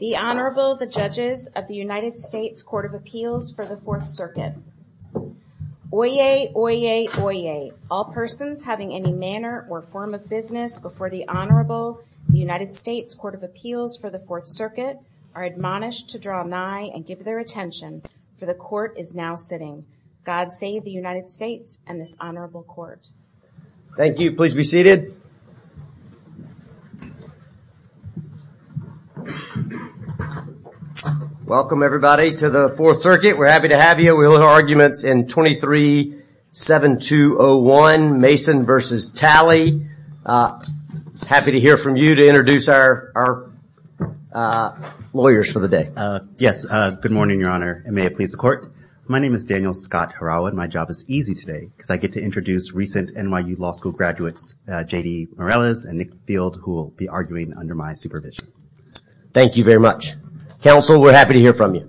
The Honorable, the Judges of the United States Court of Appeals for the Fourth Circuit. Oyez, oyez, oyez. All persons having any manner or form of business before the Honorable, the United States Court of Appeals for the Fourth Circuit are admonished to draw nigh and give their attention, for the Court is now sitting. God save the United States and this Honorable Court. Thank you. Please be seated. Welcome everybody to the Fourth Circuit. We're happy to have you. We'll have arguments in 23-7-2-0-1, Mason versus Talley. Happy to hear from you to introduce our lawyers for the day. Yes. Good morning, Your Honor. And may it please the Court. My name is Daniel Scott Harawa and my job is easy today because I get to introduce recent NYU Law School graduates, J.D. Morales and Nick Field, who will be arguing under my supervision. Thank you very much. Counsel, we're happy to hear from you.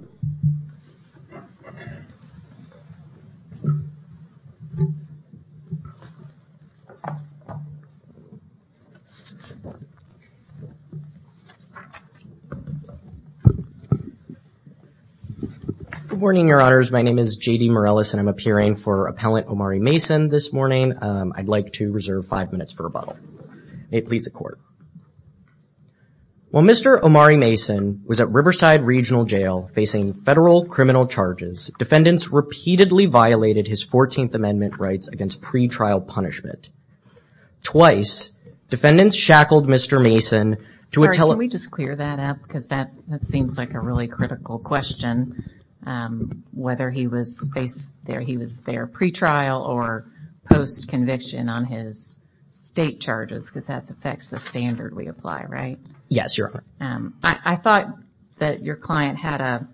Good morning, Your Honors. My name is J.D. Morales and I'm appearing for Appellant Omari Mason this morning. I'd like to reserve five minutes for rebuttal. May it please the Court. While Mr. Omari Mason was at Riverside Regional Jail facing federal criminal charges, defendants repeatedly violated his 14th Amendment rights against pretrial punishment. Twice, defendants shackled Mr. Mason to a teller. Can we just clear that up because that seems like a really critical question. Whether he was there pretrial or post-conviction on his state charges because that affects the standard we apply, right? Yes, Your Honor. I thought that your client had a,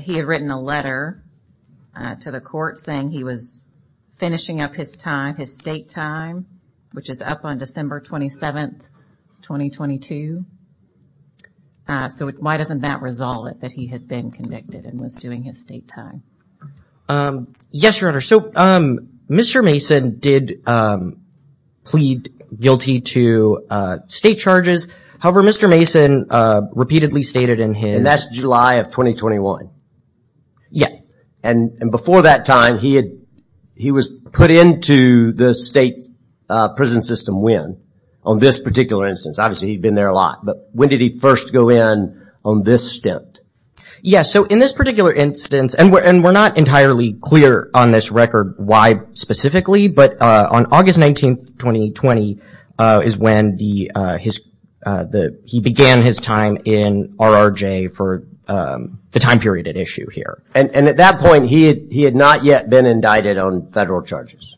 he had written a letter to the Court saying he was finishing up his time, his state time, which is up on December 27th, 2022. So why doesn't that resolve it, that he had been convicted and was doing his state time? Yes, Your Honor. So Mr. Mason did plead guilty to state charges. However, Mr. Mason repeatedly stated in his- And that's July of 2021. Yeah. And before that time, he was put into the state prison system when? On this particular instance. Obviously, he'd been there a lot, but when did he first go in on this stint? Yes. So in this particular instance, and we're not entirely clear on this record why specifically, but on August 19th, 2020 is when he began his time in RRJ for the time period at issue here. And at that point, he had not yet been indicted on federal charges.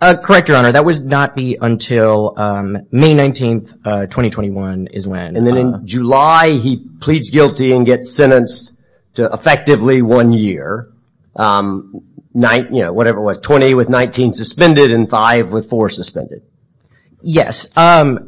Correct, Your Honor. That would not be until May 19th, 2021 is when. And then in July, he pleads guilty and gets sentenced to effectively one year, you know, whatever it was, 20 with 19 suspended and five with four suspended. Yes. But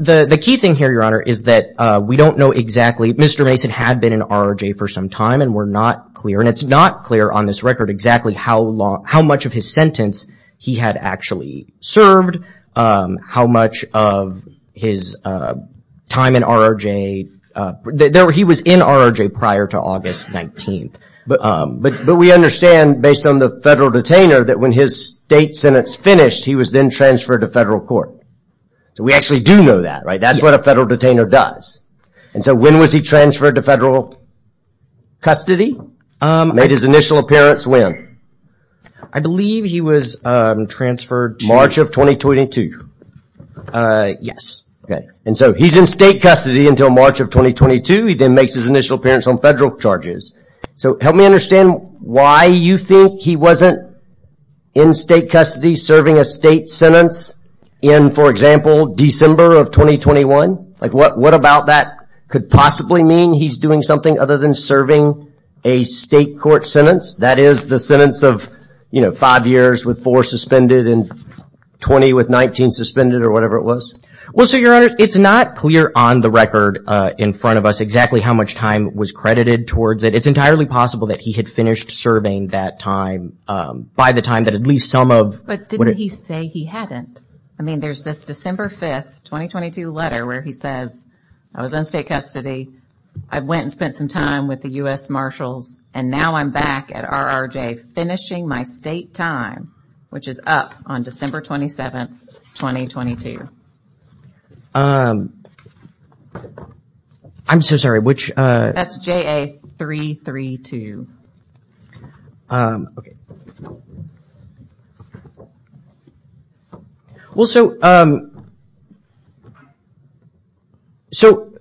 the key thing here, Your Honor, is that we don't know exactly, Mr. Mason had been in RRJ for some time and we're not clear, and it's not clear on this record exactly how long, how much of his sentence he had actually served, how much of his time in RRJ. He was in RRJ prior to August 19th, but we understand based on the federal detainer that when his state sentence finished, he was then transferred to federal court. We actually do know that, right? That's what a federal detainer does. And so when was he transferred to federal custody? Made his initial appearance when? I believe he was transferred to... March of 2022. Yes. Okay. And so he's in state custody until March of 2022, he then makes his initial appearance on federal charges. So help me understand why you think he wasn't in state custody serving a state sentence in for example, December of 2021? What about that could possibly mean he's doing something other than serving a state court sentence that is the sentence of five years with four suspended and 20 with 19 suspended or whatever it was? Well, so your honor, it's not clear on the record in front of us exactly how much time was credited towards it. It's entirely possible that he had finished serving that time by the time that at least some of... But didn't he say he hadn't? I mean, there's this December 5th, 2022 letter where he says, I was in state custody. I went and spent some time with the US Marshals and now I'm back at RRJ finishing my state time, which is up on December 27th, 2022. I'm so sorry, which... That's JA-332. Okay. Well, so, um, so,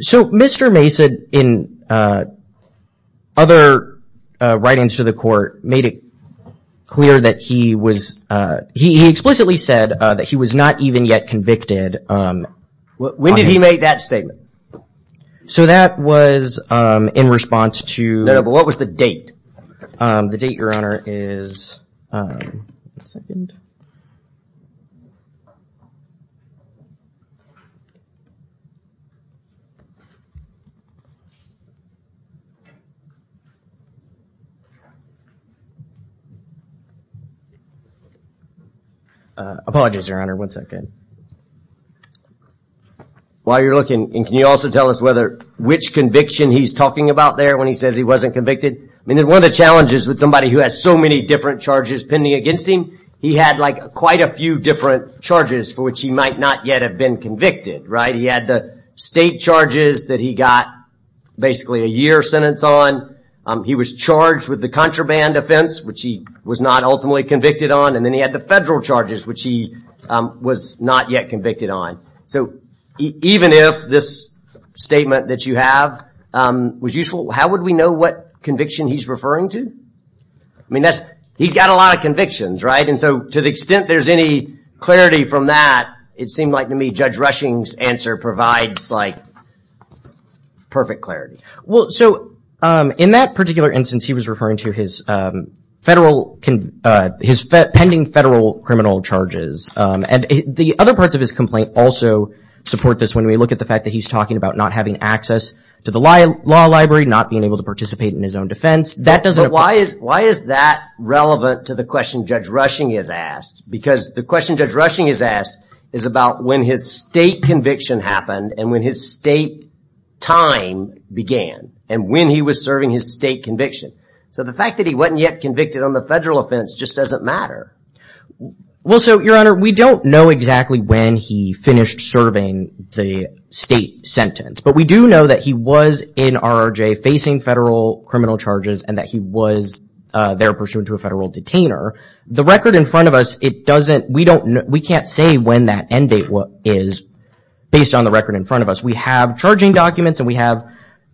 so Mr. Mason in other writings to the court made it clear that he was, uh, he explicitly said that he was not even yet convicted. When did he make that statement? So that was, um, in response to... No, no. But what was the date? Um, the date, your honor, is, um, one second. Uh, apologies, your honor, one second. While you're looking, and can you also tell us whether, which conviction he's talking about there when he says he wasn't convicted? I mean, then one of the challenges with somebody who has so many different charges pending against him, he had like quite a few different charges for which he might not yet have been convicted, right? He had the state charges that he got basically a year sentence on. He was charged with the contraband offense, which he was not ultimately convicted on. And then he had the federal charges, which he, um, was not yet convicted on. So even if this statement that you have, um, was useful, how would we know what conviction he's referring to? I mean, that's, he's got a lot of convictions, right? And so to the extent there's any clarity from that, it seemed like to me Judge Rushing's answer provides like perfect clarity. Well, so, um, in that particular instance, he was referring to his, um, federal, uh, his pending federal criminal charges. Um, and the other parts of his complaint also support this when we look at the fact that he's talking about not having access to the law library, not being able to participate in his own defense. That doesn't apply. Why is, why is that relevant to the question Judge Rushing is asked? Because the question Judge Rushing is asked is about when his state conviction happened and when his state time began and when he was serving his state conviction. So the fact that he wasn't yet convicted on the federal offense just doesn't matter. Well, so your honor, we don't know exactly when he finished serving the state sentence, but we do know that he was in RRJ facing federal criminal charges and that he was, uh, there pursuant to a federal detainer. The record in front of us, it doesn't, we don't know, we can't say when that end date was, is based on the record in front of us. We have charging documents and we have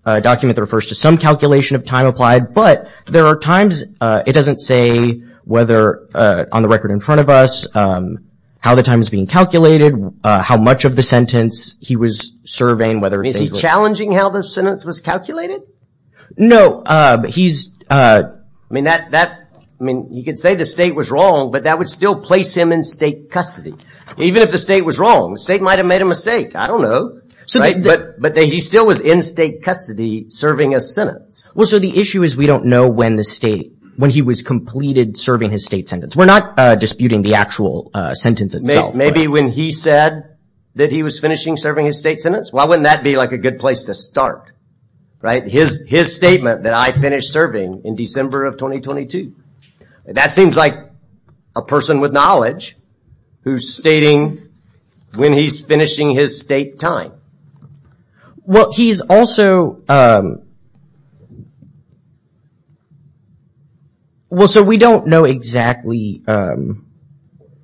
a document that refers to some calculation of time applied, but there are times, uh, it doesn't say whether, uh, on the record in front of us, um, how the time is being calculated, uh, how much of the sentence he was serving, whether it was challenging how the sentence was calculated. No, uh, he's, uh, I mean that, that, I mean, you could say the state was wrong, but that would still place him in state custody. Even if the state was wrong, the state might've made a mistake. I don't know. Right? But, but he still was in state custody serving a sentence. Well, so the issue is we don't know when the state, when he was completed serving his state sentence. We're not, uh, disputing the actual, uh, sentence itself. Maybe when he said that he was finishing serving his state sentence, why wouldn't that be like a good place to start? Right? His, his statement that I finished serving in December of 2022, that seems like a person with knowledge who's stating when he's finishing his state time. Well, he's also, um, well, so we don't know exactly, um,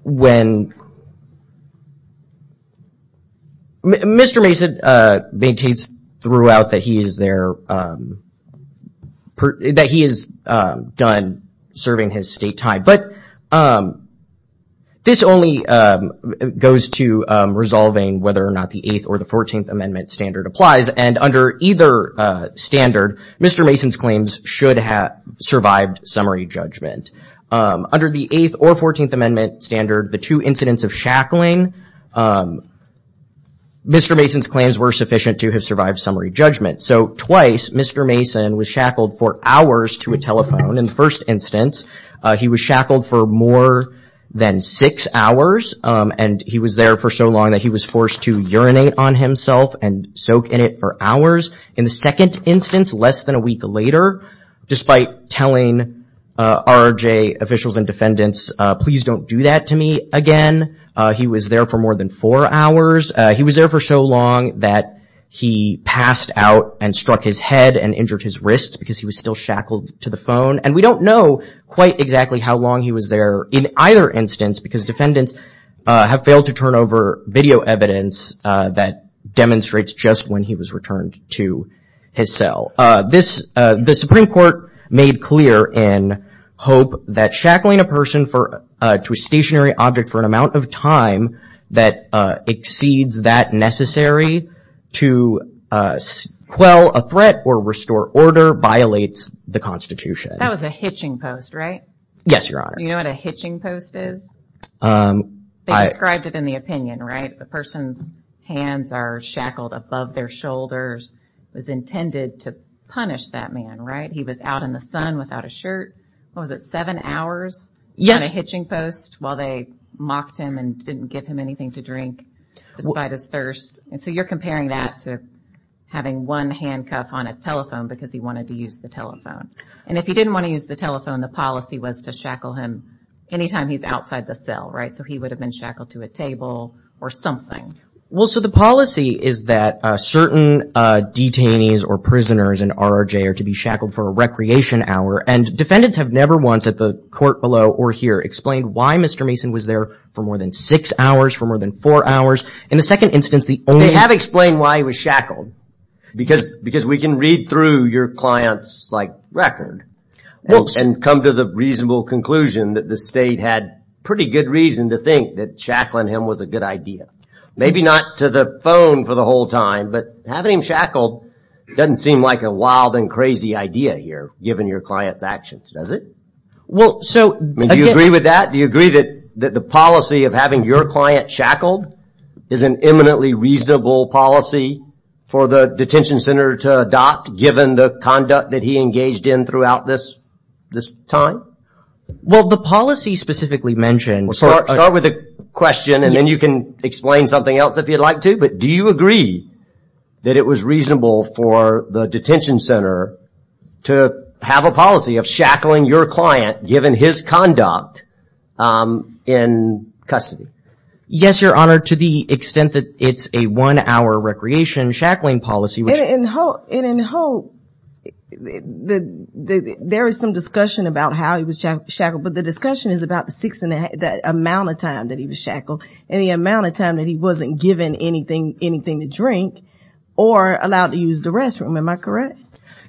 when, Mr. Mason, uh, maintains throughout that he is there, um, that he is, um, done serving his state time. But, um, this only, um, goes to, um, resolving whether or not the eighth or the 14th amendment standard applies. And under either, uh, standard, Mr. Mason's claims should have survived summary judgment. Um, under the eighth or 14th amendment standard, the two incidents of shackling, um, Mr. Mason's claims were sufficient to have survived summary judgment. So twice, Mr. Mason was shackled for hours to a telephone. In the first instance, uh, he was shackled for more than six hours, um, and he was there for so long that he was forced to urinate on himself and soak in it for hours. In the second instance, less than a week later, despite telling, uh, RRJ officials and defendants, uh, please don't do that to me again, uh, he was there for more than four hours. Uh, he was there for so long that he passed out and struck his head and injured his wrist because he was still shackled to the phone. And we don't know quite exactly how long he was there in either instance because defendants, uh, have failed to turn over video evidence, uh, that demonstrates just when he was returned to his cell. Uh, this, uh, the Supreme Court made clear in hope that shackling a person for, uh, to a stationary object for an amount of time that, uh, exceeds that necessary to, uh, quell a threat or restore order violates the Constitution. That was a hitching post, right? Yes, Your Honor. Do you know what a hitching post is? Um, I... They described it in the opinion, right? The person's hands are shackled above their shoulders. It was intended to punish that man, right? He was out in the sun without a shirt. What was it, seven hours? Yes. On a hitching post while they mocked him and didn't give him anything to drink despite his thirst. And so you're comparing that to having one handcuff on a telephone because he wanted to use the telephone. And if he didn't want to use the telephone, the policy was to shackle him anytime he's outside the cell, right? So he would have been shackled to a table or something. Well, so the policy is that, uh, certain, uh, detainees or prisoners in RRJ are to be shackled for a recreation hour and defendants have never once at the court below or here explained why Mr. Mason was there for more than six hours, for more than four hours. In the second instance, the only- They have explained why he was shackled because, because we can read through your client's like record and come to the reasonable conclusion that the state had pretty good reason to think that shackling him was a good idea. Maybe not to the phone for the whole time, but having him shackled doesn't seem like a wild and crazy idea here given your client's actions, does it? Well, so- I mean, do you agree with that? Do you agree that, that the policy of having your client shackled is an eminently reasonable policy for the detention center to adopt given the conduct that he engaged in throughout this, this time? Well, the policy specifically mentioned- Start, start with the question and then you can explain something else if you'd like to, but do you agree that it was reasonable for the detention center to have a policy of shackling your client given his conduct in custody? Yes, your honor, to the extent that it's a one hour recreation shackling policy, which- And in Hope, there is some discussion about how he was shackled, but the discussion is about the six and a half, the amount of time that he was shackled and the amount of time that he wasn't given anything, anything to drink or allowed to use the restroom. Am I correct?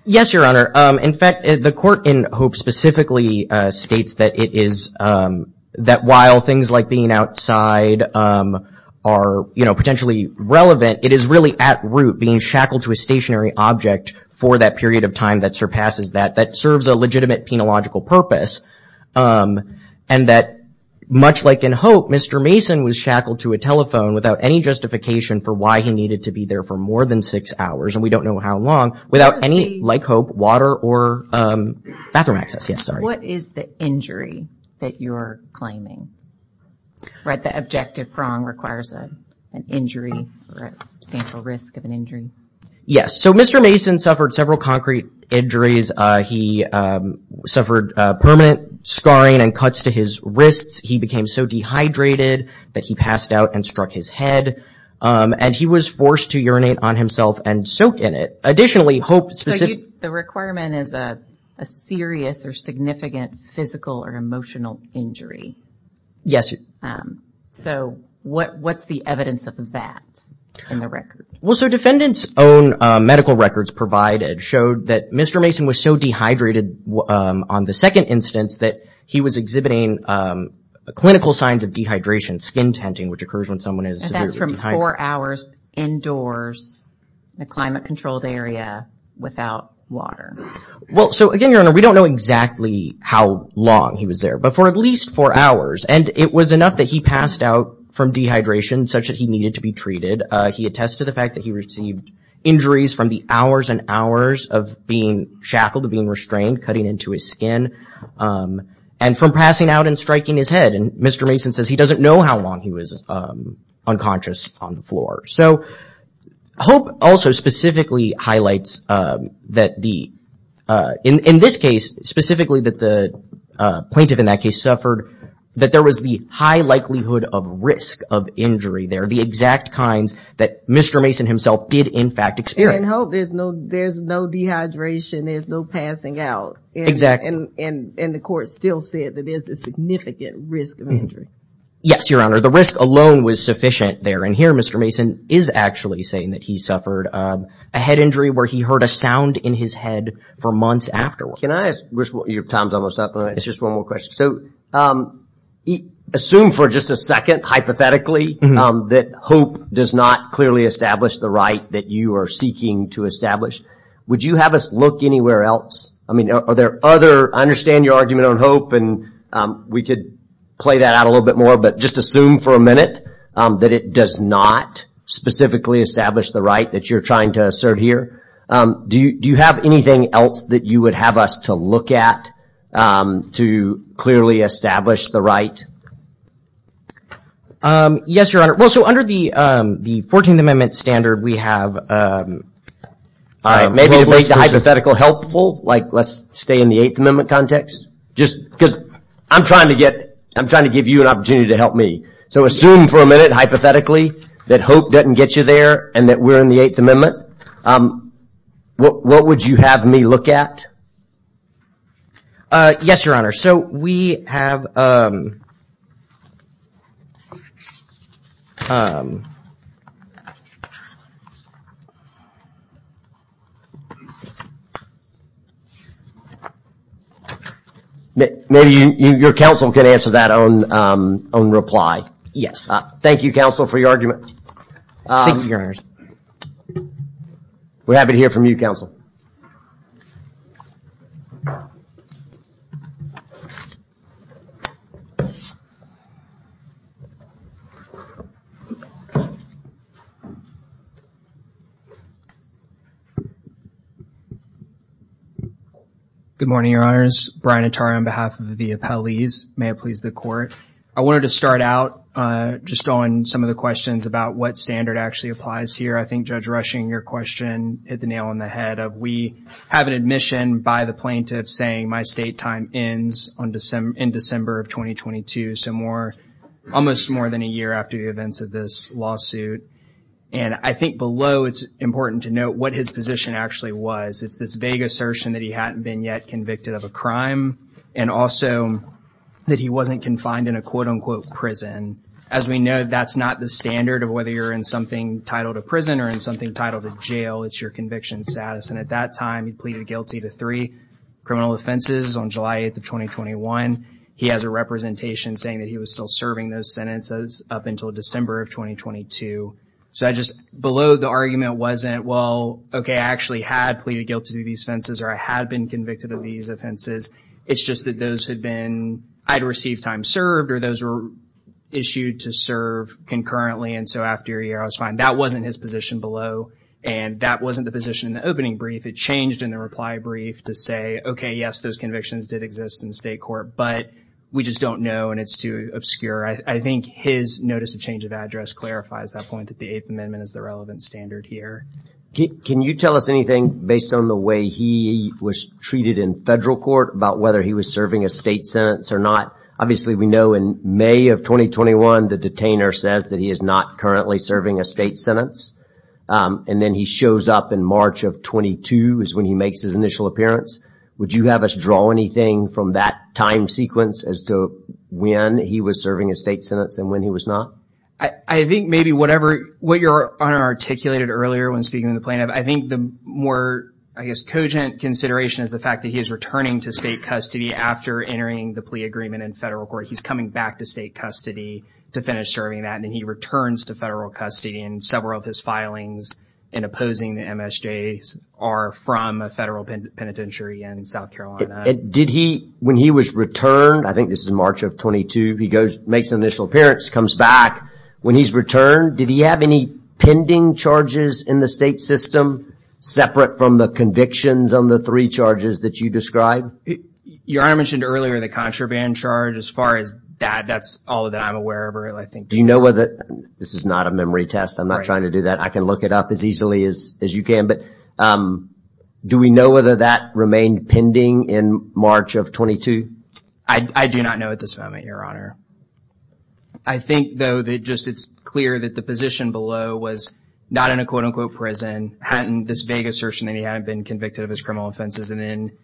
Yes, your honor. In fact, the court in Hope specifically states that it is, that while things like being outside are potentially relevant, it is really at root being shackled to a stationary object for that period of time that surpasses that, that serves a legitimate penological purpose. And that much like in Hope, Mr. Mason was shackled to a telephone without any justification for why he needed to be there for more than six hours, and we don't know how long, without any, like Hope, water or bathroom access. Yes, sorry. What is the injury that you're claiming? Right, the objective prong requires an injury or a substantial risk of an injury. Yes, so Mr. Mason suffered several concrete injuries. He suffered permanent scarring and cuts to his wrists. He became so dehydrated that he passed out and struck his head, and he was forced to urinate on himself and soaked in it. Additionally, Hope specific... The requirement is a serious or significant physical or emotional injury. Yes. So what's the evidence of that in the record? Well, so defendants' own medical records provided showed that Mr. Mason was so dehydrated on the second instance that he was exhibiting clinical signs of dehydration, skin tenting, which occurs when someone is severely dehydrated. Four hours indoors in a climate-controlled area without water. Well, so again, Your Honor, we don't know exactly how long he was there, but for at least four hours, and it was enough that he passed out from dehydration such that he needed to be treated. He attests to the fact that he received injuries from the hours and hours of being shackled, of being restrained, cutting into his skin, and from passing out and striking his head, and Mr. Mason says he doesn't know how long he was unconscious on the floor. So Hope also specifically highlights that in this case, specifically that the plaintiff in that case suffered, that there was the high likelihood of risk of injury there, the exact kinds that Mr. Mason himself did, in fact, experience. And in Hope, there's no dehydration, there's no passing out. Exactly. And the court still said that there's a significant risk of injury. Yes, Your Honor. The risk alone was sufficient there. And here, Mr. Mason is actually saying that he suffered a head injury where he heard a sound in his head for months afterwards. Can I ask, your time's almost up, but it's just one more question. So assume for just a second, hypothetically, that Hope does not clearly establish the right that you are seeking to establish. Would you have us look anywhere else? I mean, are there other... I understand your argument on Hope, and we could play that out a little bit more, but just assume for a minute that it does not specifically establish the right that you're trying to assert here. Do you have anything else that you would have us to look at to clearly establish the right? Yes, Your Honor. Well, so under the 14th Amendment standard, we have... All right, maybe to make the hypothetical helpful, like let's stay in the Eighth Amendment context. Just because I'm trying to give you an opportunity to help me. So assume for a minute, hypothetically, that Hope doesn't get you there and that we're in the Eighth Amendment. What would you have me look at? Yes, Your Honor. So we have... Maybe your counsel can answer that on reply. Yes. Thank you, counsel, for your argument. Thank you, Your Honor. We're happy to hear from you, counsel. Good morning, Your Honors. Brian Attara on behalf of the appellees. May it please the Court. I wanted to start out just on some of the questions about what standard actually applies here. I think Judge Rushing, your question hit the nail on the head of we have an admission by the plaintiff saying my state time ends in December of 2022, so almost more than a year after the events of this lawsuit. And I think below, it's important to note what his position actually was. It's this vague assertion that he hadn't been yet convicted of a crime and also that he wasn't confined in a quote-unquote prison. As we know, that's not the standard of whether you're in something titled a prison or in something titled a jail. It's your conviction status. At that time, he pleaded guilty to three criminal offenses on July 8th of 2021. He has a representation saying that he was still serving those sentences up until December of 2022. So I just, below the argument wasn't, well, okay, I actually had pleaded guilty to these offenses or I had been convicted of these offenses. It's just that those had been, I'd received time served or those were issued to serve concurrently. And so after a year, I was fine. That wasn't his position below. And that wasn't the position in the opening brief. It changed in the reply brief to say, okay, yes, those convictions did exist in state court, but we just don't know. And it's too obscure. I think his notice of change of address clarifies that point that the Eighth Amendment is the relevant standard here. Can you tell us anything based on the way he was treated in federal court about whether he was serving a state sentence or not? Obviously, we know in May of 2021, the detainer says that he is not currently serving a state sentence. And then he shows up in March of 22 is when he makes his initial appearance. Would you have us draw anything from that time sequence as to when he was serving a state sentence and when he was not? I think maybe whatever, what your Honor articulated earlier when speaking to the plaintiff, I think the more, I guess, cogent consideration is the fact that he is returning to state custody after entering the plea agreement in federal court. He's coming back to state custody to finish serving that. And then he returns to federal custody. Several of his filings in opposing the MSJs are from a federal penitentiary in South Carolina. Did he, when he was returned, I think this is March of 22, he goes, makes an initial appearance, comes back. When he's returned, did he have any pending charges in the state system separate from the convictions on the three charges that you described? Your Honor mentioned earlier the contraband charge. As far as that, that's all that I'm aware of. Do you know whether, this is not a memory test. I'm not trying to do that. I can look it up as easily as you can. But do we know whether that remained pending in March of 22? I do not know at this moment, Your Honor. I think though that just it's clear that the position below was not in a quote unquote prison, hadn't this vague assertion that he hadn't been convicted of his criminal offenses. And then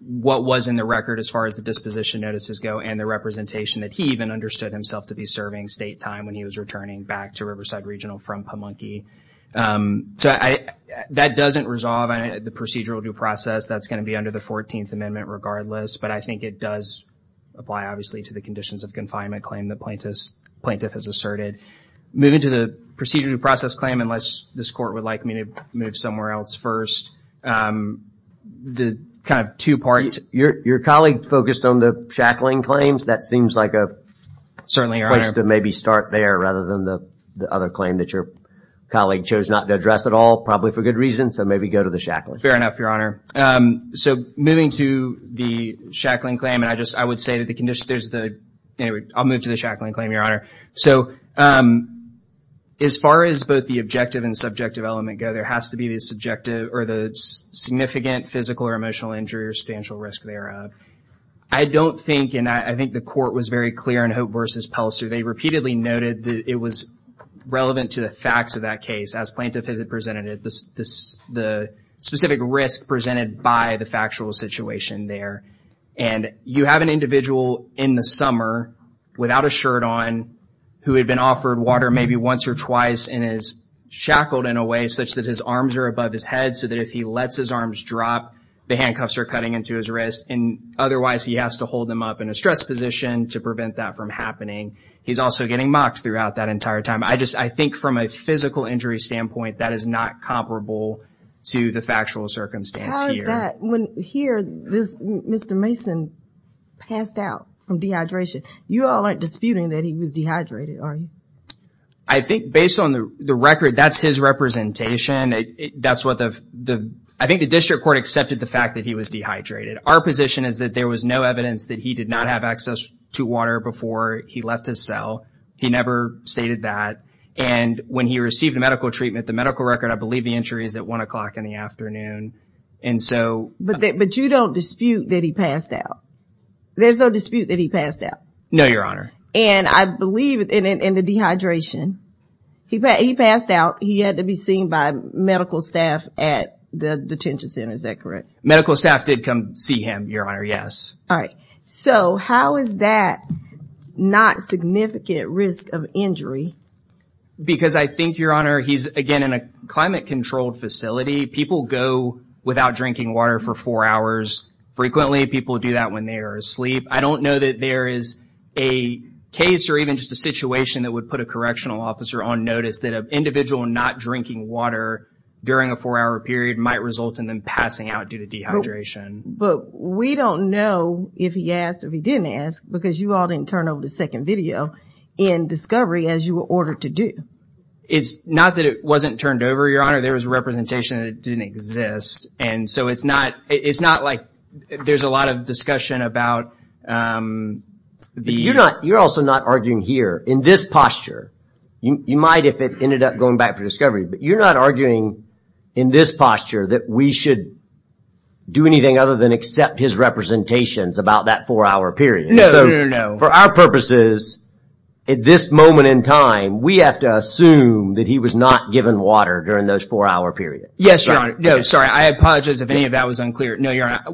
what was in the record as far as the disposition notices go and the representation that he even understood himself to be serving state time when he was returning back to Riverside Regional from Pamunkey. So I, that doesn't resolve the procedural due process. That's going to be under the 14th Amendment regardless. But I think it does apply obviously to the conditions of confinement claim the plaintiff has asserted. Moving to the procedural due process claim, unless this court would like me to move somewhere else first, the kind of two-part. Your colleague focused on the shackling claims. That seems like a place to maybe start there rather than the other claim that your colleague chose not to address at all, probably for good reason. So maybe go to the shackling. Fair enough, Your Honor. So moving to the shackling claim, and I just, I would say that the condition, there's the, anyway, I'll move to the shackling claim, Your Honor. So as far as both the objective and subjective element go, there has to be the subjective or the significant physical or emotional injury or substantial risk thereof. I don't think, and I think the court was very clear in Hope v. Pelser, they repeatedly noted that it was relevant to the facts of that case as Plaintiff presented it, the specific risk presented by the factual situation there. And you have an individual in the summer without a shirt on who had been offered water maybe once or twice and is shackled in a way such that his arms are above his head so that if he lets his arms drop, the handcuffs are cutting into his wrist. And otherwise, he has to hold them up in a stress position to prevent that from happening. He's also getting mocked throughout that entire time. I just, I think from a physical injury standpoint, that is not comparable to the factual circumstance here. How is that? When here, this, Mr. Mason passed out from dehydration. You all aren't disputing that he was dehydrated, are you? I think based on the record, that's his representation. That's what the, I think the district court accepted the fact that he was dehydrated. Our position is that there was no evidence that he did not have access to water before he left his cell. He never stated that. And when he received medical treatment, the medical record, I believe the entry is at one o'clock in the afternoon. And so. But you don't dispute that he passed out? There's no dispute that he passed out? No, Your Honor. And I believe in the dehydration, he passed out. He had to be seen by medical staff at the detention center. Is that correct? Medical staff did come see him, Your Honor. Yes. All right. So how is that not significant risk of injury? Because I think, Your Honor, he's, again, in a climate controlled facility. People go without drinking water for four hours frequently. People do that when they are asleep. I don't know that there is a case or even just a situation that would put a correctional officer on notice that an individual not drinking water during a four-hour period might result in them passing out due to dehydration. But we don't know if he asked, if he didn't ask, because you all didn't turn over the second video in discovery as you were ordered to do. It's not that it wasn't turned over, Your Honor. There was representation that it didn't exist. And so it's not like there's a lot of discussion about. You're also not arguing here. In this posture, you might if it ended up going back to discovery, but you're not arguing in this posture that we should do anything other than accept his representations about that four-hour period. No, no, no. For our purposes, at this moment in time, we have to assume that he was not given water during those four-hour period. Yes, Your Honor. No, sorry. I apologize if any of that was unclear. No, Your Honor.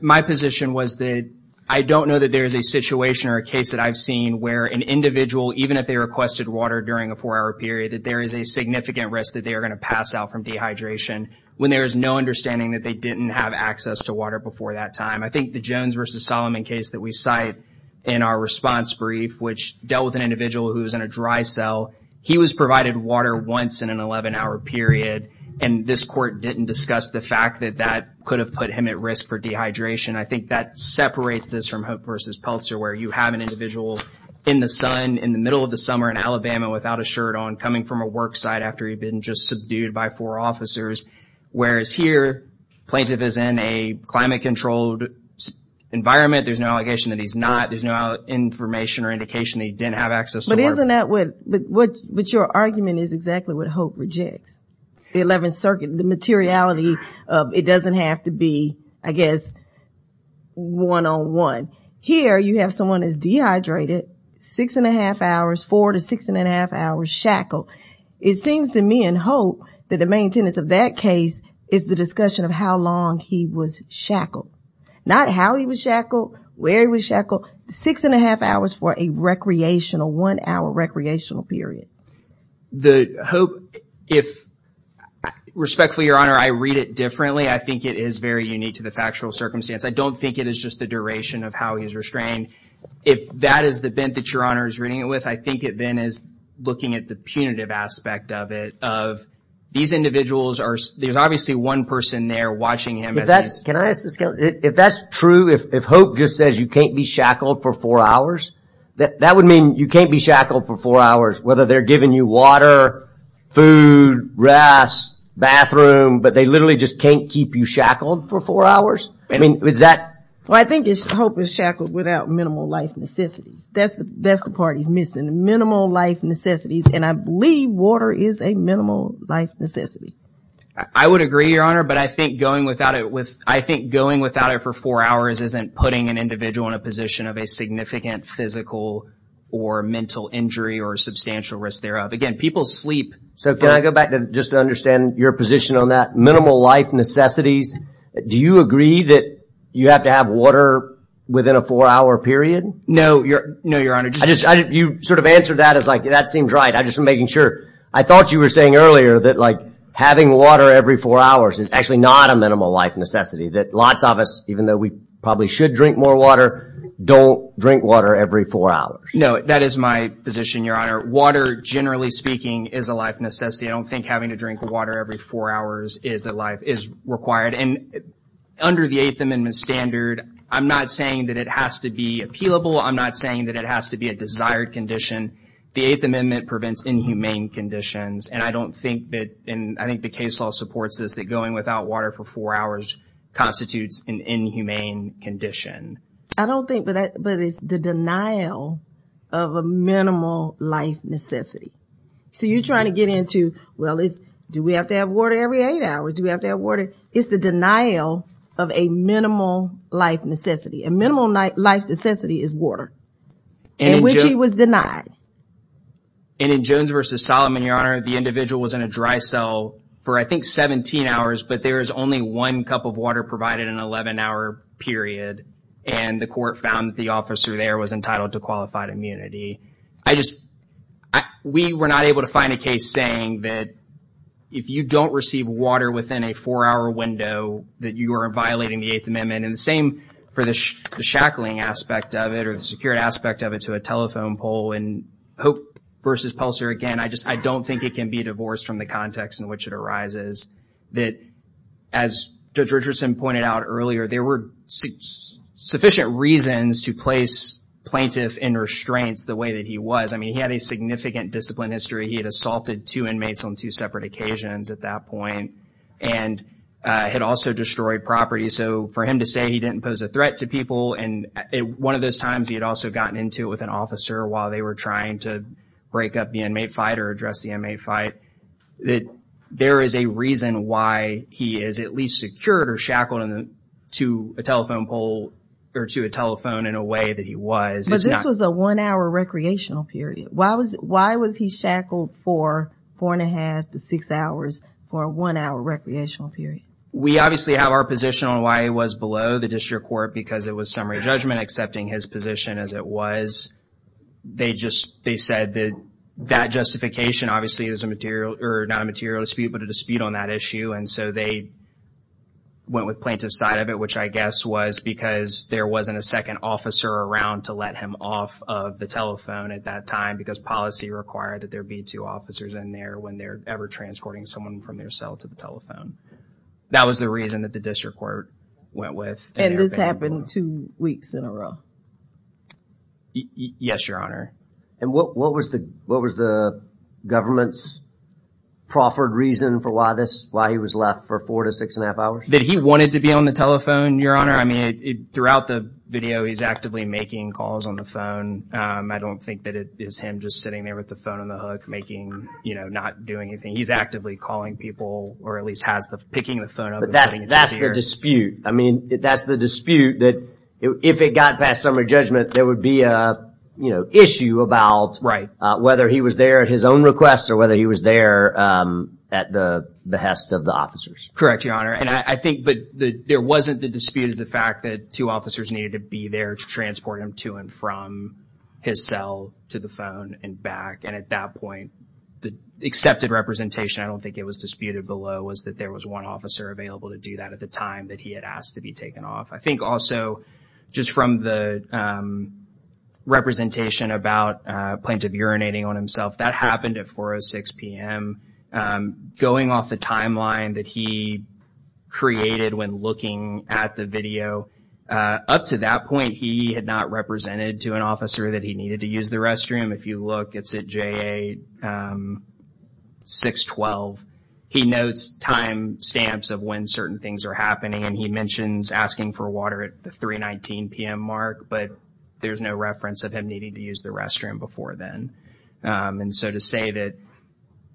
My position was that I don't know that there is a situation or a case that I've seen where an individual, even if they requested water during a four-hour period, that there is a significant risk that they are going to pass out from dehydration when there is no understanding that they didn't have access to water before that time. I think the Jones versus Solomon case that we cite in our response brief, which dealt with an individual who was in a dry cell. He was provided water once in an 11-hour period, and this court didn't discuss the fact that that could have put him at risk for dehydration. I think that separates this from Hope versus Peltzer, where you have an individual in the sun in the middle of the summer in Alabama without a shirt on, coming from a work site after he'd been just subdued by four officers. Whereas here, plaintiff is in a climate-controlled environment. There's no allegation that he's not. There's no information or indication that he didn't have access to water. But isn't that what... But your argument is exactly what Hope rejects. The 11th Circuit, the materiality of it doesn't have to be, I guess, one-on-one. Here, you have someone who's dehydrated, six and a half hours, four to six and a half hours shackled. It seems to me in Hope that the main tenets of that case is the discussion of how long he was shackled. Not how he was shackled, where he was shackled. Six and a half hours for a recreational, one-hour recreational period. The Hope, if... Respectfully, Your Honor, I read it differently. I think it is very unique to the factual circumstance. I don't think it is just the duration of how he's restrained. If that is the bent that Your Honor is reading it with, I think it then is looking at the punitive aspect of it. Of these individuals are... There's obviously one person there watching him as he's... Can I ask this? If that's true, if Hope just says you can't be shackled for four hours, that would mean you can't be shackled for four hours. Whether they're giving you water, food, grass, bathroom, but they literally just can't keep you shackled for four hours? I mean, is that... Well, I think Hope is shackled without minimal life necessities. That's the part he's missing. Minimal life necessities. And I believe water is a minimal life necessity. I would agree, Your Honor, but I think going without it for four hours isn't putting an individual in a position of a significant physical or mental injury or substantial risk thereof. Again, people sleep. So, can I go back just to understand your position on that? Minimal life necessities. Do you agree that you have to have water within a four-hour period? No, Your Honor. You sort of answered that as like, that seems right. I'm just making sure. I thought you were saying earlier that having water every four hours is actually not a minimal life necessity. That lots of us, even though we probably should drink more water, don't drink water every four hours. No, that is my position, Your Honor. Water, generally speaking, is a life necessity. I don't think having to drink water every four hours is required. And under the Eighth Amendment standard, I'm not saying that it has to be appealable. I'm not saying that it has to be a desired condition. The Eighth Amendment prevents inhumane conditions. And I don't think that... And I think the case law supports this, that going without water for four hours constitutes an inhumane condition. I don't think, but it's the denial of a minimal life necessity. So, you're trying to get into, well, do we have to have water every eight hours? Do we have to have water? It's the denial of a minimal life necessity. A minimal life necessity is water, in which he was denied. And in Jones v. Solomon, Your Honor, the individual was in a dry cell for, I think, 17 hours, but there was only one cup of water provided in an 11-hour period. And the court found that the officer there was entitled to qualified immunity. We were not able to find a case saying that if you don't receive water within a four-hour window, that you are violating the Eighth Amendment. And the same for the shackling aspect of it, or the secured aspect of it, to a telephone pole. And Hope v. Pulsar, again, I just, I don't think it can be divorced from the context in which it arises, that, as Judge Richardson pointed out earlier, there were sufficient reasons to place plaintiff in restraints the way that he was. I mean, he had a significant discipline history. He had assaulted two inmates on two separate occasions at that point, and had also destroyed property. So, for him to say he didn't pose a threat to people, and one of those times he had also gotten into it with an officer while they were trying to break up the inmate fight, or address the inmate fight, that there is a reason why he is at least secured or shackled to a telephone pole, or to a telephone in a way that he was. But this was a one-hour recreational period. Why was he shackled for four and a half to six hours for a one-hour recreational period? We obviously have our position on why he was below the district court, because it was summary judgment accepting his position as it was, they just, they said that that justification obviously is a material, or not a material dispute, but a dispute on that issue. And so, they went with plaintiff's side of it, which I guess was because there wasn't a second officer around to let him off of the telephone at that time, because policy required that there be two officers in there when they're ever transporting someone from their cell to the telephone. That was the reason that the district court went with. And this happened two weeks in a row? Yes, Your Honor. And what was the government's proffered reason for why this, why he was left for four to six and a half hours? That he wanted to be on the telephone, Your Honor? I mean, throughout the video, he's actively making calls on the phone. I don't think that it is him just sitting there with the phone on the hook, making, you know, not doing anything. He's actively calling people, or at least has the, picking the phone up. But that's the dispute. I mean, that's the dispute that if it got past summary judgment, there would be a, you know, issue about whether he was there at his own request or whether he was there at the behest of the officers. Correct, Your Honor. And I think, but there wasn't the dispute is the fact that two officers needed to be there to transport him to and from his cell to the phone and back. And at that point, the accepted representation, I don't think it was disputed below, was that there was one officer available to do that at the time that he had asked to be taken off. I think also, just from the representation about plaintiff urinating on himself, that happened at 4 or 6 p.m. Going off the timeline that he created when looking at the video, up to that point, he had not represented to an officer that he needed to use the restroom. If you look, it's at J.A. 612. He notes time stamps of when certain things are happening, and he mentions asking for water at the 3.19 p.m. mark. But there's no reference of him needing to use the restroom before then. And so to say that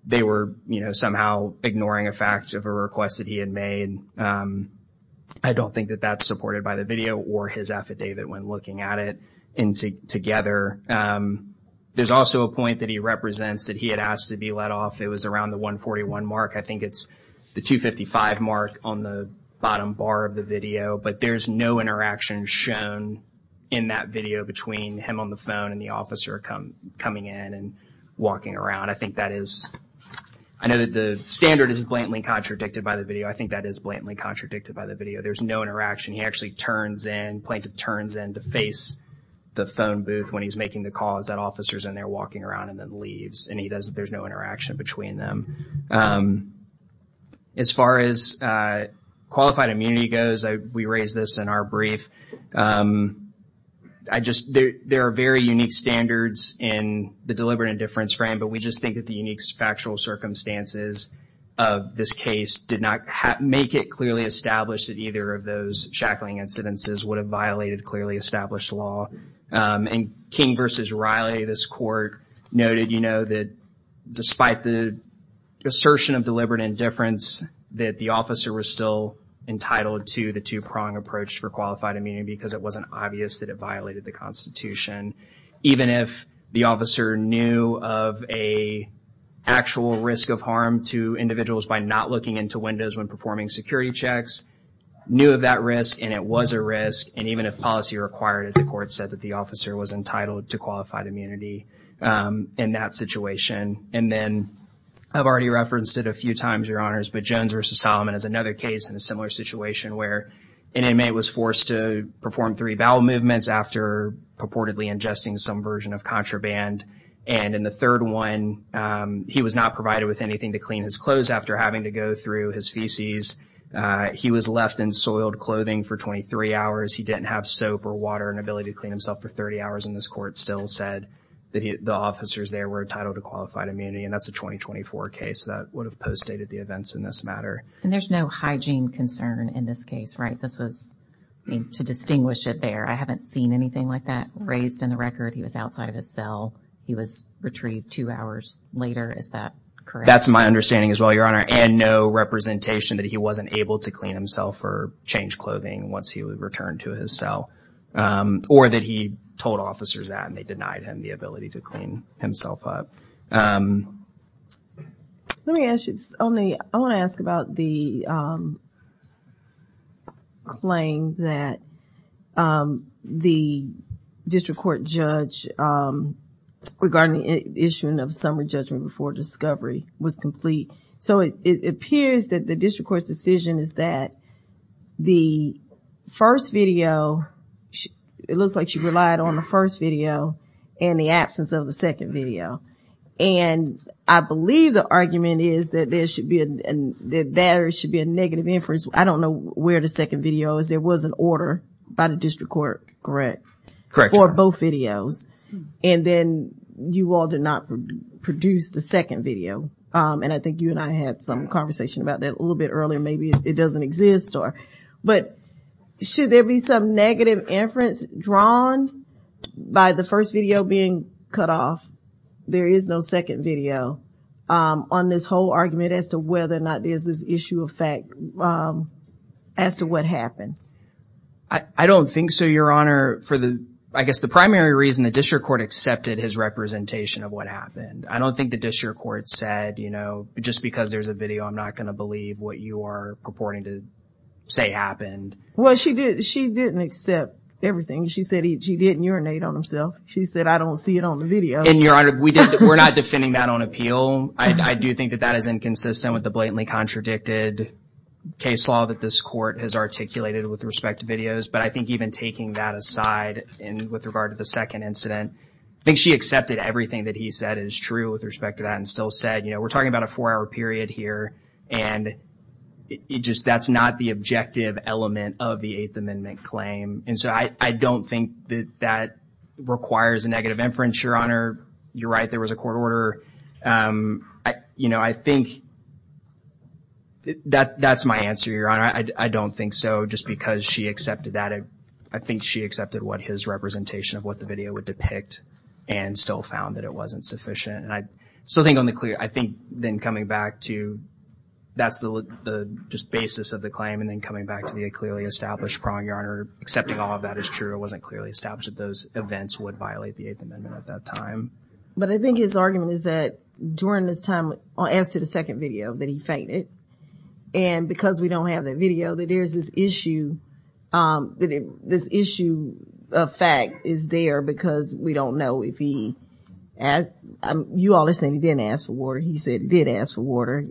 they were, you know, somehow ignoring a fact of a request that he had made, I don't think that that's supported by the video or his affidavit when looking at it. Together, there's also a point that he represents that he had asked to be let off. It was around the 1.41 mark. I think it's the 2.55 mark on the bottom bar of the video. But there's no interaction shown in that video between him on the phone and the officer coming in and walking around. I think that is, I know that the standard is blatantly contradicted by the video. I think that is blatantly contradicted by the video. There's no interaction. He actually turns in, plaintiff turns in to face the phone booth when he's making the calls. That officer's in there walking around and then leaves. And he does, there's no interaction between them. As far as qualified immunity goes, we raised this in our brief. I just, there are very unique standards in the deliberate indifference frame. But we just think that the unique factual circumstances of this case did not make it established that either of those shackling incidences would have violated clearly established law. And King versus Riley, this court noted, you know, that despite the assertion of deliberate indifference, that the officer was still entitled to the two-prong approach for qualified immunity because it wasn't obvious that it violated the Constitution. Even if the officer knew of a actual risk of harm to individuals by not looking into windows when performing security checks, knew of that risk, and it was a risk. And even if policy required it, the court said that the officer was entitled to qualified immunity in that situation. And then I've already referenced it a few times, Your Honors, but Jones versus Solomon is another case in a similar situation where an inmate was forced to perform three bowel movements after purportedly ingesting some version of contraband. And in the third one, he was not provided with anything to clean his clothes after having to go through his feces. He was left in soiled clothing for 23 hours. He didn't have soap or water and ability to clean himself for 30 hours. And this court still said that the officers there were entitled to qualified immunity. And that's a 2024 case that would have postdated the events in this matter. And there's no hygiene concern in this case, right? This was, I mean, to distinguish it there. I haven't seen anything like that raised in the record. He was outside of his cell. He was retrieved two hours later. Is that correct? That's my understanding as well, Your Honor. And no representation that he wasn't able to clean himself or change clothing once he would return to his cell or that he told officers that and they denied him the ability to clean himself up. Let me ask you, I want to ask about the claim that the district court judge regarding the issue of summary judgment before discovery was complete. So it appears that the district court's decision is that the first video, it looks like she relied on the first video and the absence of the second video. And I believe the argument is that there should be a negative inference. I don't know where the second video is. There was an order by the district court, correct, for both videos. And then you all did not produce the second video. And I think you and I had some conversation about that a little bit earlier. Maybe it doesn't exist or, but should there be some negative inference drawn by the first video being cut off? There is no second video on this whole argument as to whether or not there's this issue of fact as to what happened. I don't think so, Your Honor. For the, I guess the primary reason the district court accepted his representation of what happened. I don't think the district court said, you know, just because there's a video, I'm not going to believe what you are purporting to say happened. Well, she did. She didn't accept everything she said. She didn't urinate on himself. She said, I don't see it on the video. And Your Honor, we're not defending that on appeal. I do think that that is inconsistent with the blatantly contradicted case law that this court has articulated with respect to videos. But I think even taking that aside and with regard to the second incident, I think she accepted everything that he said is true with respect to that and still said, you know, we're talking about a four-hour period here and it just, that's not the objective element of the Eighth Amendment claim. And so I don't think that that requires a negative inference, Your Honor. You're right, there was a court order. You know, I think that that's my answer, Your Honor. I don't think so. Just because she accepted that, I think she accepted what his representation of what the video would depict. And still found that it wasn't sufficient. And I still think on the clear, I think then coming back to, that's the just basis of the claim. And then coming back to the clearly established prong, Your Honor, accepting all of that is true. It wasn't clearly established that those events would violate the Eighth Amendment at that time. But I think his argument is that during this time, as to the second video, that he fainted. And because we don't have that video, that there's this issue, that this issue of fact is there because we don't know if he asked. You all are saying he didn't ask for water. He said he did ask for water.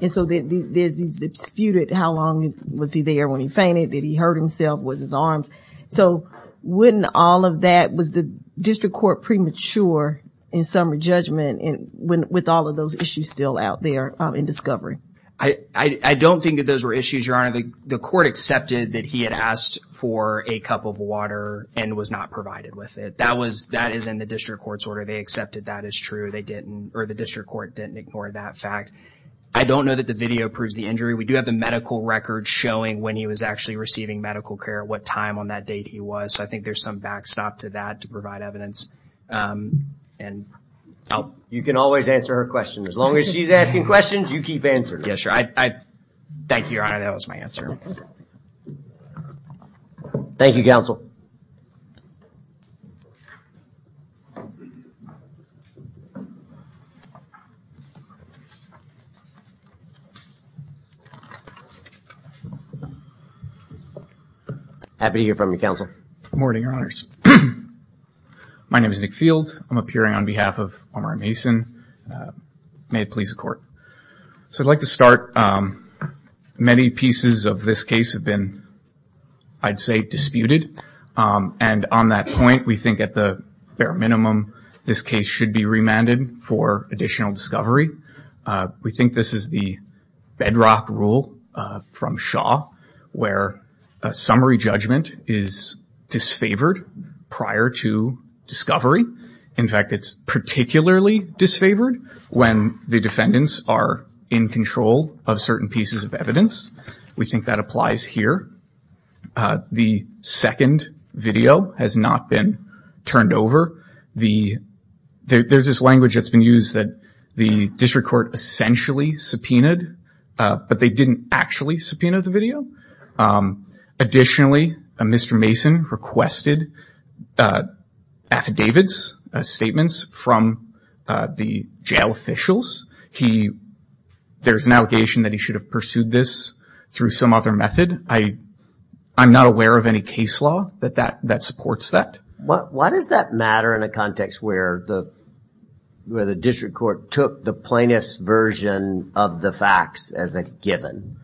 And so there's these disputed, how long was he there when he fainted? Did he hurt himself? Was his arms? So wouldn't all of that, was the district court premature in some judgment with all of those issues still out there in discovery? I don't think that those were issues, Your Honor. The court accepted that he had asked for a cup of water and was not provided with it. That was, that is in the district court's order. They accepted that as true. They didn't, or the district court didn't ignore that fact. I don't know that the video proves the injury. We do have the medical record showing when he was actually receiving medical care, what time on that date he was. So I think there's some backstop to that to provide evidence. And I'll... You can always answer her question. As long as she's asking questions, you keep answering. Yes, Your Honor. Thank you, Your Honor. That was my answer. Thank you, Counsel. Happy to hear from you, Counsel. Good morning, Your Honors. My name is Nick Field. I'm appearing on behalf of Omari Mason. May it please the court. So I'd like to start. Many pieces of this case have been, I'd say, disputed. And on that point, we think at the bare minimum, this case should be remanded for additional discovery. We think this is the bedrock rule from Shaw, where a summary judgment is disfavored prior to discovery. In fact, it's particularly disfavored when the defendants are in control of certain pieces of evidence. We think that applies here. The second video has not been turned over. There's this language that's been used that the district court essentially subpoenaed, but they didn't actually subpoena the video. Additionally, Mr. Mason requested affidavits, statements from the jail officials. There's an allegation that he should have pursued this through some other method. I'm not aware of any case law that supports that. Why does that matter in a context where the district court took the plaintiff's version of the facts as a given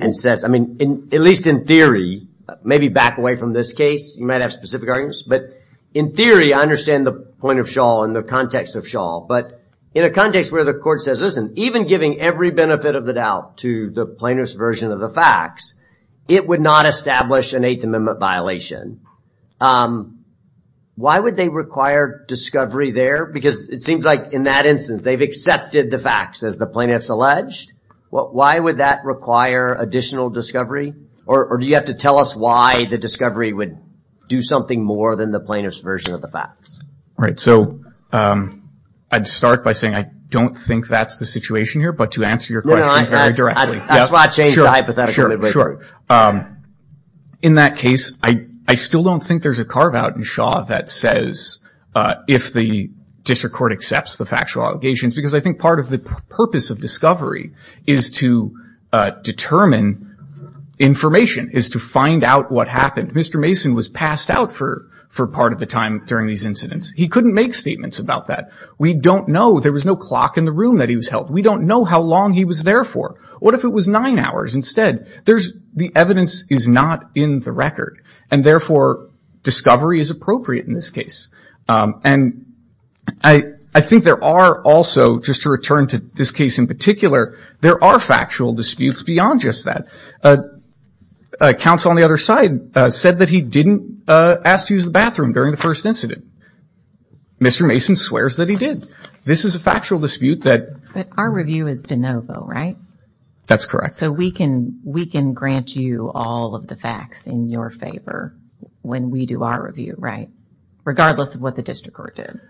and says, I mean, at least in theory, maybe back away from this case, you might have specific arguments. But in theory, I understand the point of Shaw and the context of Shaw. But in a context where the court says, listen, even giving every benefit of the doubt to the plaintiff's version of the facts, it would not establish an Eighth Amendment violation. Why would they require discovery there? Because it seems like in that instance, they've accepted the facts as the plaintiff's alleged. Why would that require additional discovery? Or do you have to tell us why the discovery would do something more than the plaintiff's version of the facts? Right. So I'd start by saying I don't think that's the situation here. But to answer your question very directly. In that case, I still don't think there's a carve out in Shaw that says, if the district court accepts the factual allegations. Because I think part of the purpose of discovery is to determine information, is to find out what happened. Mr. Mason was passed out for part of the time during these incidents. He couldn't make statements about that. We don't know. There was no clock in the room that he was held. We don't know how long he was there for. What if it was nine hours instead? The evidence is not in the record. And therefore, discovery is appropriate in this case. And I think there are also, just to return to this case in particular, there are factual disputes beyond just that. Counsel on the other side said that he didn't ask to use the bathroom during the first incident. Mr. Mason swears that he did. This is a factual dispute that. But our review is de novo, right? That's correct. So we can grant you all of the facts in your favor when we do our review, right? Regardless of what the district court did.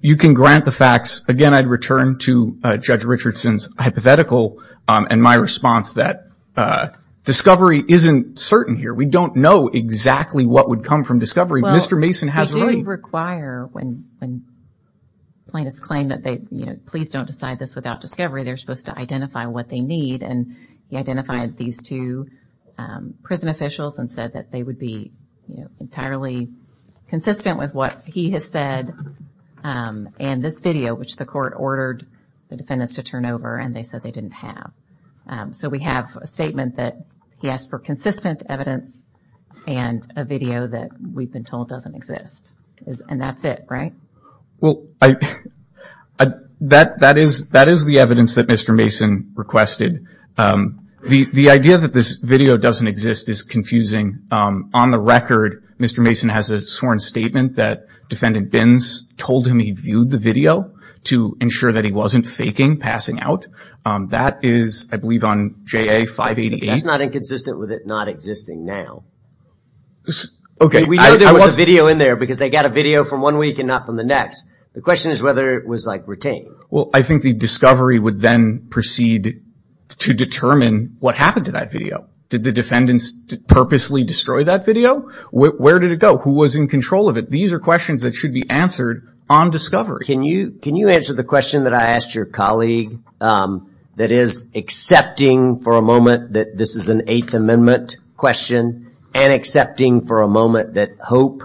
You can grant the facts. Again, I'd return to Judge Richardson's hypothetical and my response that discovery isn't certain here. We don't know exactly what would come from discovery. Mr. Mason has. We do require when plaintiffs claim that they, please don't decide this without discovery. They're supposed to identify what they need. He identified these two prison officials and said that they would be entirely consistent with what he has said in this video, which the court ordered the defendants to turn over and they said they didn't have. So we have a statement that he asked for consistent evidence and a video that we've been told doesn't exist. And that's it, right? Well, that is the evidence that Mr. Mason requested. The idea that this video doesn't exist is confusing. On the record, Mr. Mason has a sworn statement that defendant Bins told him he viewed the video to ensure that he wasn't faking passing out. That is, I believe, on JA 588. That's not inconsistent with it not existing now. Okay. We know there was a video in there because they got a video from one week and not from the next. The question is whether it was retained. Well, I think the discovery would then proceed to determine what happened to that video. Did the defendants purposely destroy that video? Where did it go? Who was in control of it? These are questions that should be answered on discovery. Can you answer the question that I asked your colleague that is accepting for a moment that this is an Eighth Amendment question and accepting for a moment that Hope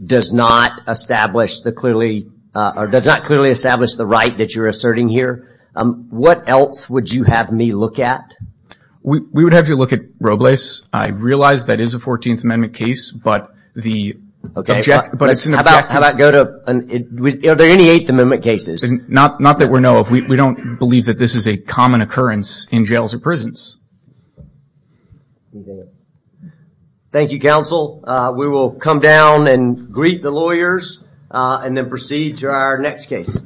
does not establish the clearly or does not clearly establish the right that you're asserting here. What else would you have me look at? We would have you look at Robles. I realize that is a 14th Amendment case, but the... Okay, but how about go to... Are there any Eighth Amendment cases? Not that we know of. We don't believe that this is a common occurrence in jails or prisons. Thank you, counsel. We will come down and greet the lawyers and then proceed to our next case.